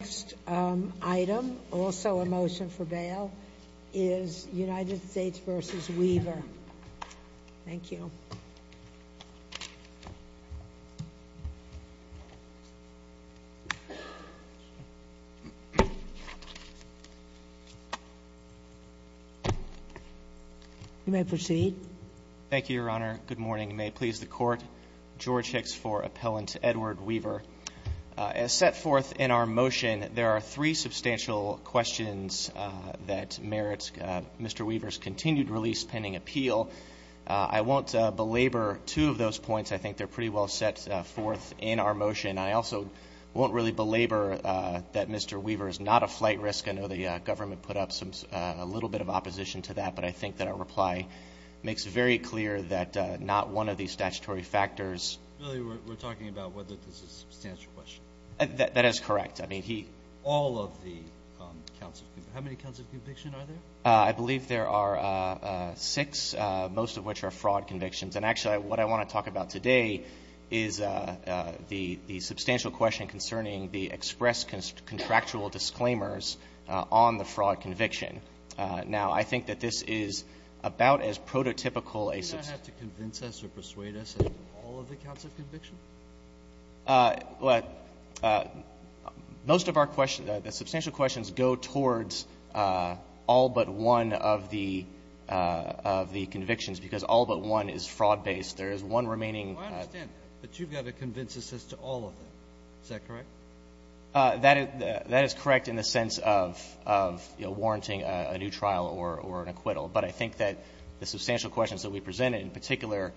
The next item, also a motion for bail, is United States v. Weaver. Thank you. You may proceed. Thank you, Your Honor. Good morning. May it please the Court. George Hicks for Appellant Edward Weaver. As set forth in our motion, there are three substantial questions that merit Mr. Weaver's continued release pending appeal. I won't belabor two of those points. I think they're pretty well set forth in our motion. I also won't really belabor that Mr. Weaver is not a flight risk. I know the government put up a little bit of opposition to that, but I think that our reply makes very clear that not one of these statutory factors Really, we're talking about whether this is a substantial question. That is correct. I mean, he All of the counts of conviction. How many counts of conviction are there? I believe there are six, most of which are fraud convictions. And actually, what I want to talk about today is the substantial question concerning the express contractual disclaimers on the fraud conviction. Now, I think that this is about as prototypical a Do you not have to convince us or persuade us of all of the counts of conviction? Most of our questions, the substantial questions go towards all but one of the convictions because all but one is fraud-based. There is one remaining I understand that, but you've got to convince us as to all of them. Is that correct? That is correct in the sense of, you know, warranting a new trial or an acquittal. But I think that the substantial questions that we presented in particular,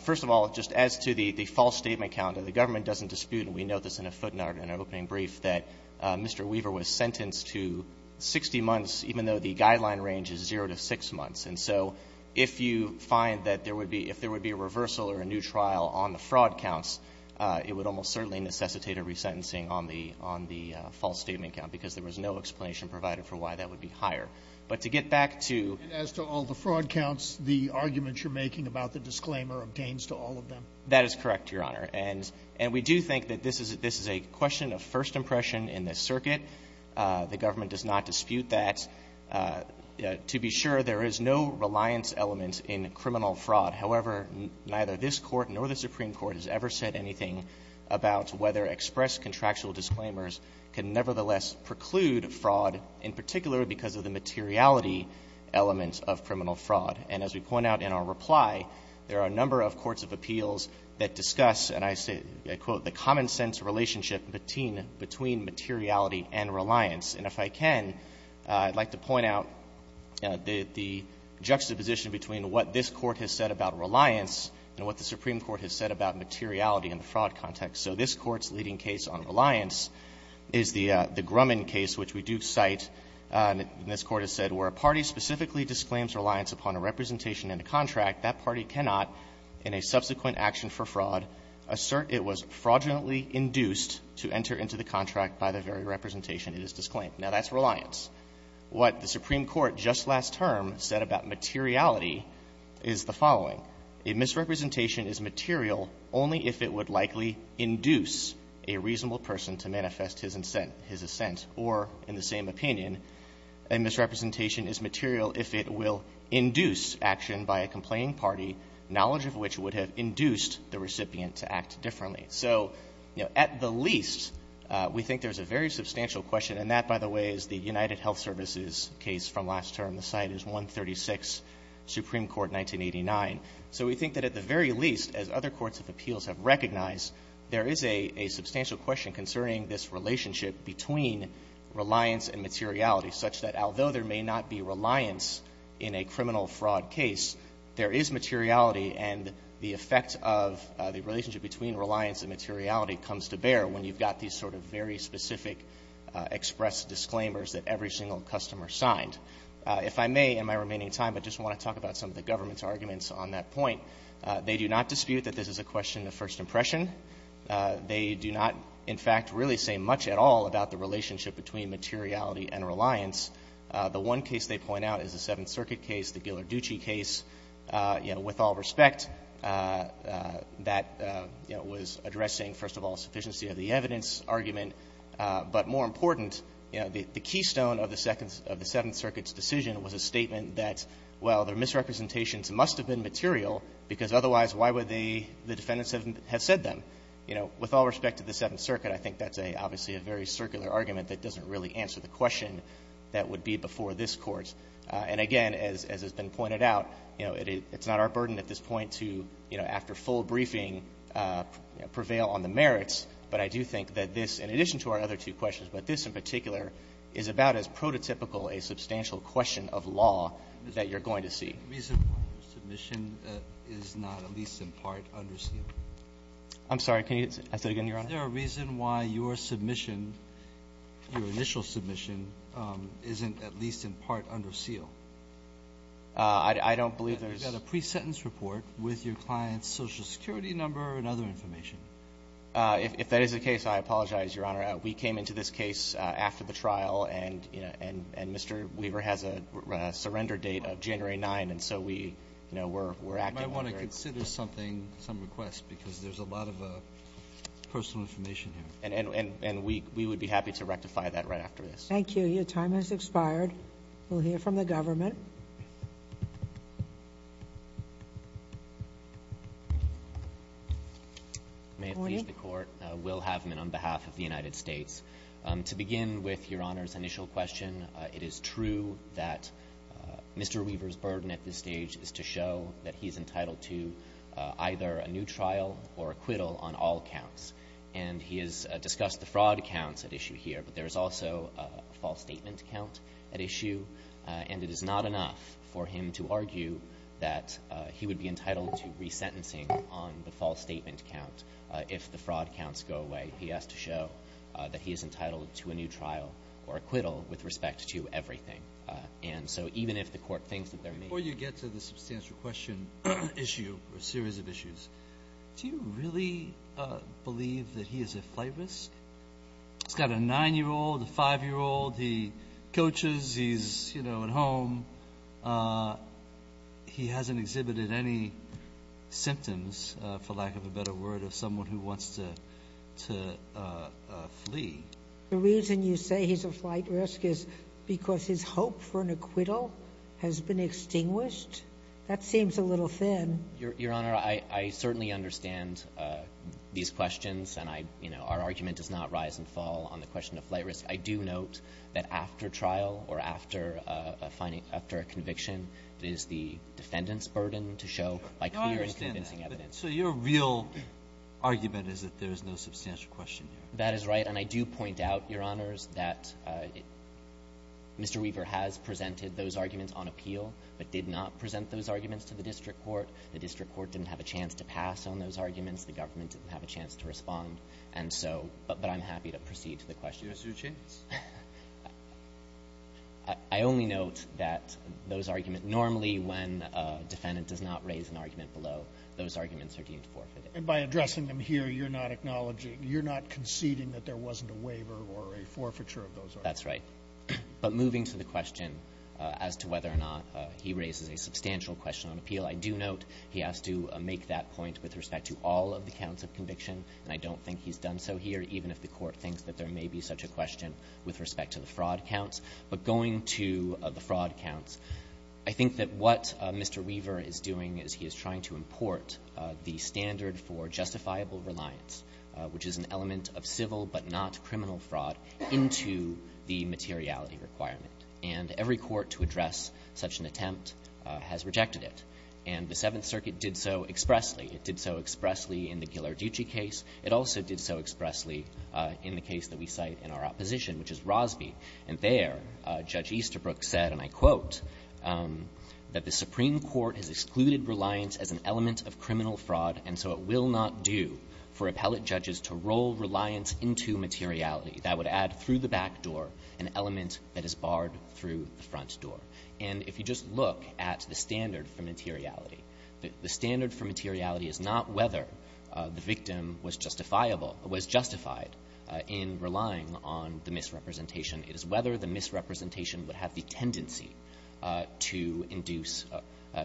first of all, just as to the false statement count, the government doesn't dispute and we note this in a footnote in our opening brief, that Mr. Weaver was sentenced to 60 months, even though the guideline range is zero to six months. And so if you find that there would be, if there would be a reversal or a new trial on the fraud counts, it would almost certainly necessitate a resentencing on the false statement count because there was no explanation provided for why that would be higher. But to get back to And as to all the fraud counts, the argument you're making about the disclaimer obtains to all of them? That is correct, Your Honor. And we do think that this is a question of first impression in this circuit. The government does not dispute that. To be sure, there is no reliance element in criminal fraud. However, neither this Court nor the Supreme Court has ever said anything about whether expressed contractual disclaimers can nevertheless preclude fraud, in particular because of the materiality elements of criminal fraud. And as we point out in our reply, there are a number of courts of appeals that discuss, and I say, I quote, the common-sense relationship between materiality and reliance. And if I can, I'd like to point out the juxtaposition between what this Court has said about reliance and what the Supreme Court has said about materiality in the fraud context. So this Court's leading case on reliance is the Grumman case, which we do cite, and this Court has said, Where a party specifically disclaims reliance upon a representation in a contract, that party cannot, in a subsequent action for fraud, assert it was fraudulently induced to enter into the contract by the very representation it has disclaimed. Now, that's reliance. What the Supreme Court just last term said about materiality is the following. A misrepresentation is material only if it would likely induce a reasonable person to manifest his assent or, in the same opinion, a misrepresentation is material if it will induce action by a complaining party, knowledge of which would have induced the recipient to act differently. So, you know, at the least, we think there's a very substantial question, and that, by the way, is the United Health Services case from last term. The site is 136, Supreme Court, 1989. So we think that, at the very least, as other courts of appeals have recognized, there is a substantial question concerning this relationship between reliance and materiality, such that, although there may not be reliance in a criminal fraud case, there is materiality, and the effect of the relationship between reliance and materiality comes to bear when you've got these sort of very specific express disclaimers that every single customer signed. If I may, in my remaining time, I just want to talk about some of the government's arguments on that point. They do not dispute that this is a question of first impression. They do not, in fact, really say much at all about the relationship between materiality and reliance. The one case they point out is the Seventh Circuit case, the Ghilarducci case. You know, with all respect, that, you know, was addressing, first of all, sufficiency of the evidence argument. But more important, you know, the keystone of the Seventh Circuit's decision was a statement that, well, their misrepresentations must have been material, because otherwise, why would the defendant have said them? You know, with all respect to the Seventh Circuit, I think that's obviously a very circular argument that doesn't really answer the question that would be before this Court. And again, as has been pointed out, you know, it's not our burden at this point to, you know, after full briefing, prevail on the merits, but I do think that this, in addition to our other two questions, but this in particular, is about as prototypical a substantial question of law that you're going to see. Roberts. Is there a reason why your submission is not at least in part under seal? I'm sorry. Can you say that again, Your Honor? Is there a reason why your submission, your initial submission, isn't at least in part under seal? I don't believe there is. You've got a pre-sentence report with your client's Social Security number and other information. If that is the case, I apologize, Your Honor. We came into this case after the trial, and Mr. Weaver has a surrender date of January 9, and so we, you know, we're acting under it. You might want to consider something, some request, because there's a lot of personal information here. And we would be happy to rectify that right after this. Thank you. Your time has expired. We'll hear from the government. May it please the Court. We'll have him in on behalf of the United States. To begin with, Your Honor's initial question, it is true that Mr. Weaver's burden at this stage is to show that he's entitled to either a new trial or acquittal on all counts. And he has discussed the fraud counts at issue here, but there is also a false statement count at issue. And it is not enough for him to argue that he would be entitled to resentencing on the false statement count if the fraud counts go away. He has to show that he is entitled to a new trial or acquittal with respect to everything. And so even if the Court thinks that there may be – Before you get to the substantial question issue or series of issues, do you really believe that he is a flight risk? He's got a 9-year-old, a 5-year-old. He coaches. He's at home. He hasn't exhibited any symptoms, for lack of a better word, of someone who wants to flee. The reason you say he's a flight risk is because his hope for an acquittal has been extinguished? That seems a little thin. Your Honor, I certainly understand these questions. And I – you know, our argument does not rise and fall on the question of flight risk. I do note that after trial or after a conviction, it is the defendant's burden to show, like, fear in convincing evidence. I understand that. So your real argument is that there is no substantial question here. That is right. And I do point out, Your Honors, that Mr. Weaver has presented those arguments on appeal, but did not present those arguments to the district court. The district court didn't have a chance to pass on those arguments. The government didn't have a chance to respond. And so – but I'm happy to proceed to the question. Do you assume a chance? I only note that those arguments – normally when a defendant does not raise an argument below, those arguments are deemed forfeited. And by addressing them here, you're not acknowledging – you're not conceding that there wasn't a waiver or a forfeiture of those arguments? That's right. But moving to the question as to whether or not he raises a substantial question on appeal, I do note he has to make that point with respect to all of the counts of conviction, and I don't think he's done so here, even if the Court thinks that there may be such a question with respect to the fraud counts. But going to the fraud counts, I think that what Mr. Weaver is doing is he is trying to import the standard for justifiable reliance, which is an element of civil but not criminal fraud, into the materiality requirement. And every court to address such an attempt has rejected it. And the Seventh Circuit did so expressly. It did so expressly in the Ghilarducci case. It also did so expressly in the case that we cite in our opposition, which is Rosby. And there, Judge Easterbrook said, and I quote, that the Supreme Court has excluded reliance as an element of criminal fraud, and so it will not do for appellate judges to roll reliance into materiality. That would add through the back door an element that is barred through the front door. And if you just look at the standard for materiality, the standard for materiality is not whether the victim was justifiable, was justified in relying on the misrepresentation. It is whether the misrepresentation would have the tendency to induce,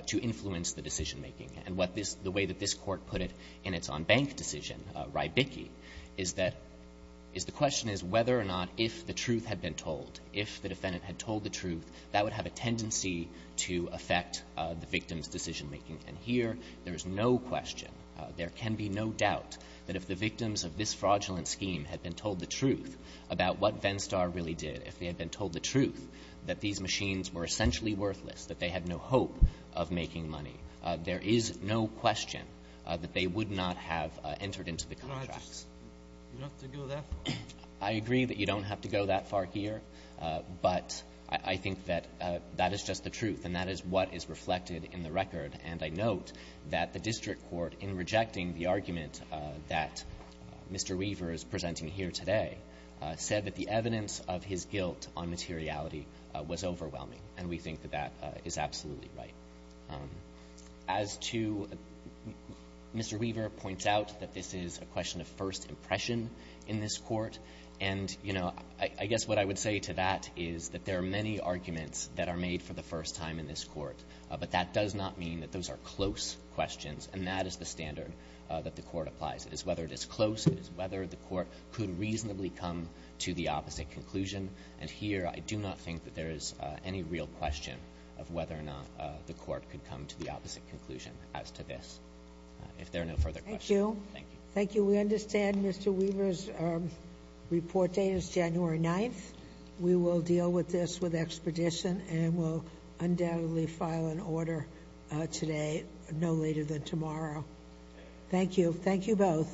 to influence the decisionmaking. And what this — the way that this Court put it in its on-bank decision, Rybicki, is that — is the question is whether or not if the truth had been told, if the defendant had told the truth, that would have a tendency to affect the victim's decisionmaking. And here, there is no question, there can be no doubt, that if the victims of this fraudulent scheme had been told the truth about what Venstar really did, if they had been told the truth that these machines were essentially worthless, that they had no hope of making money, there is no question that they would not have entered into the contracts. You don't have to go that far. I agree that you don't have to go that far here. But I think that that is just the truth, and that is what is reflected in the record. And I note that the district court, in rejecting the argument that Mr. Weaver is presenting here today, said that the evidence of his guilt on materiality was overwhelming, and we think that that is absolutely right. As to — Mr. Weaver points out that this is a question of first impression in this Court. And, you know, I guess what I would say to that is that there are many arguments that are made for the first time in this Court, but that does not mean that those are close questions, and that is the standard that the Court applies. It is whether it is close, it is whether the Court could reasonably come to the opposite conclusion. And here, I do not think that there is any real question of whether or not the Court could come to the opposite conclusion as to this. If there are no further questions — Thank you. Thank you. We understand Mr. Weaver's report date is January 9th. We will deal with this with expedition, and we'll undoubtedly file an order today, no later than tomorrow. Thank you. Thank you both.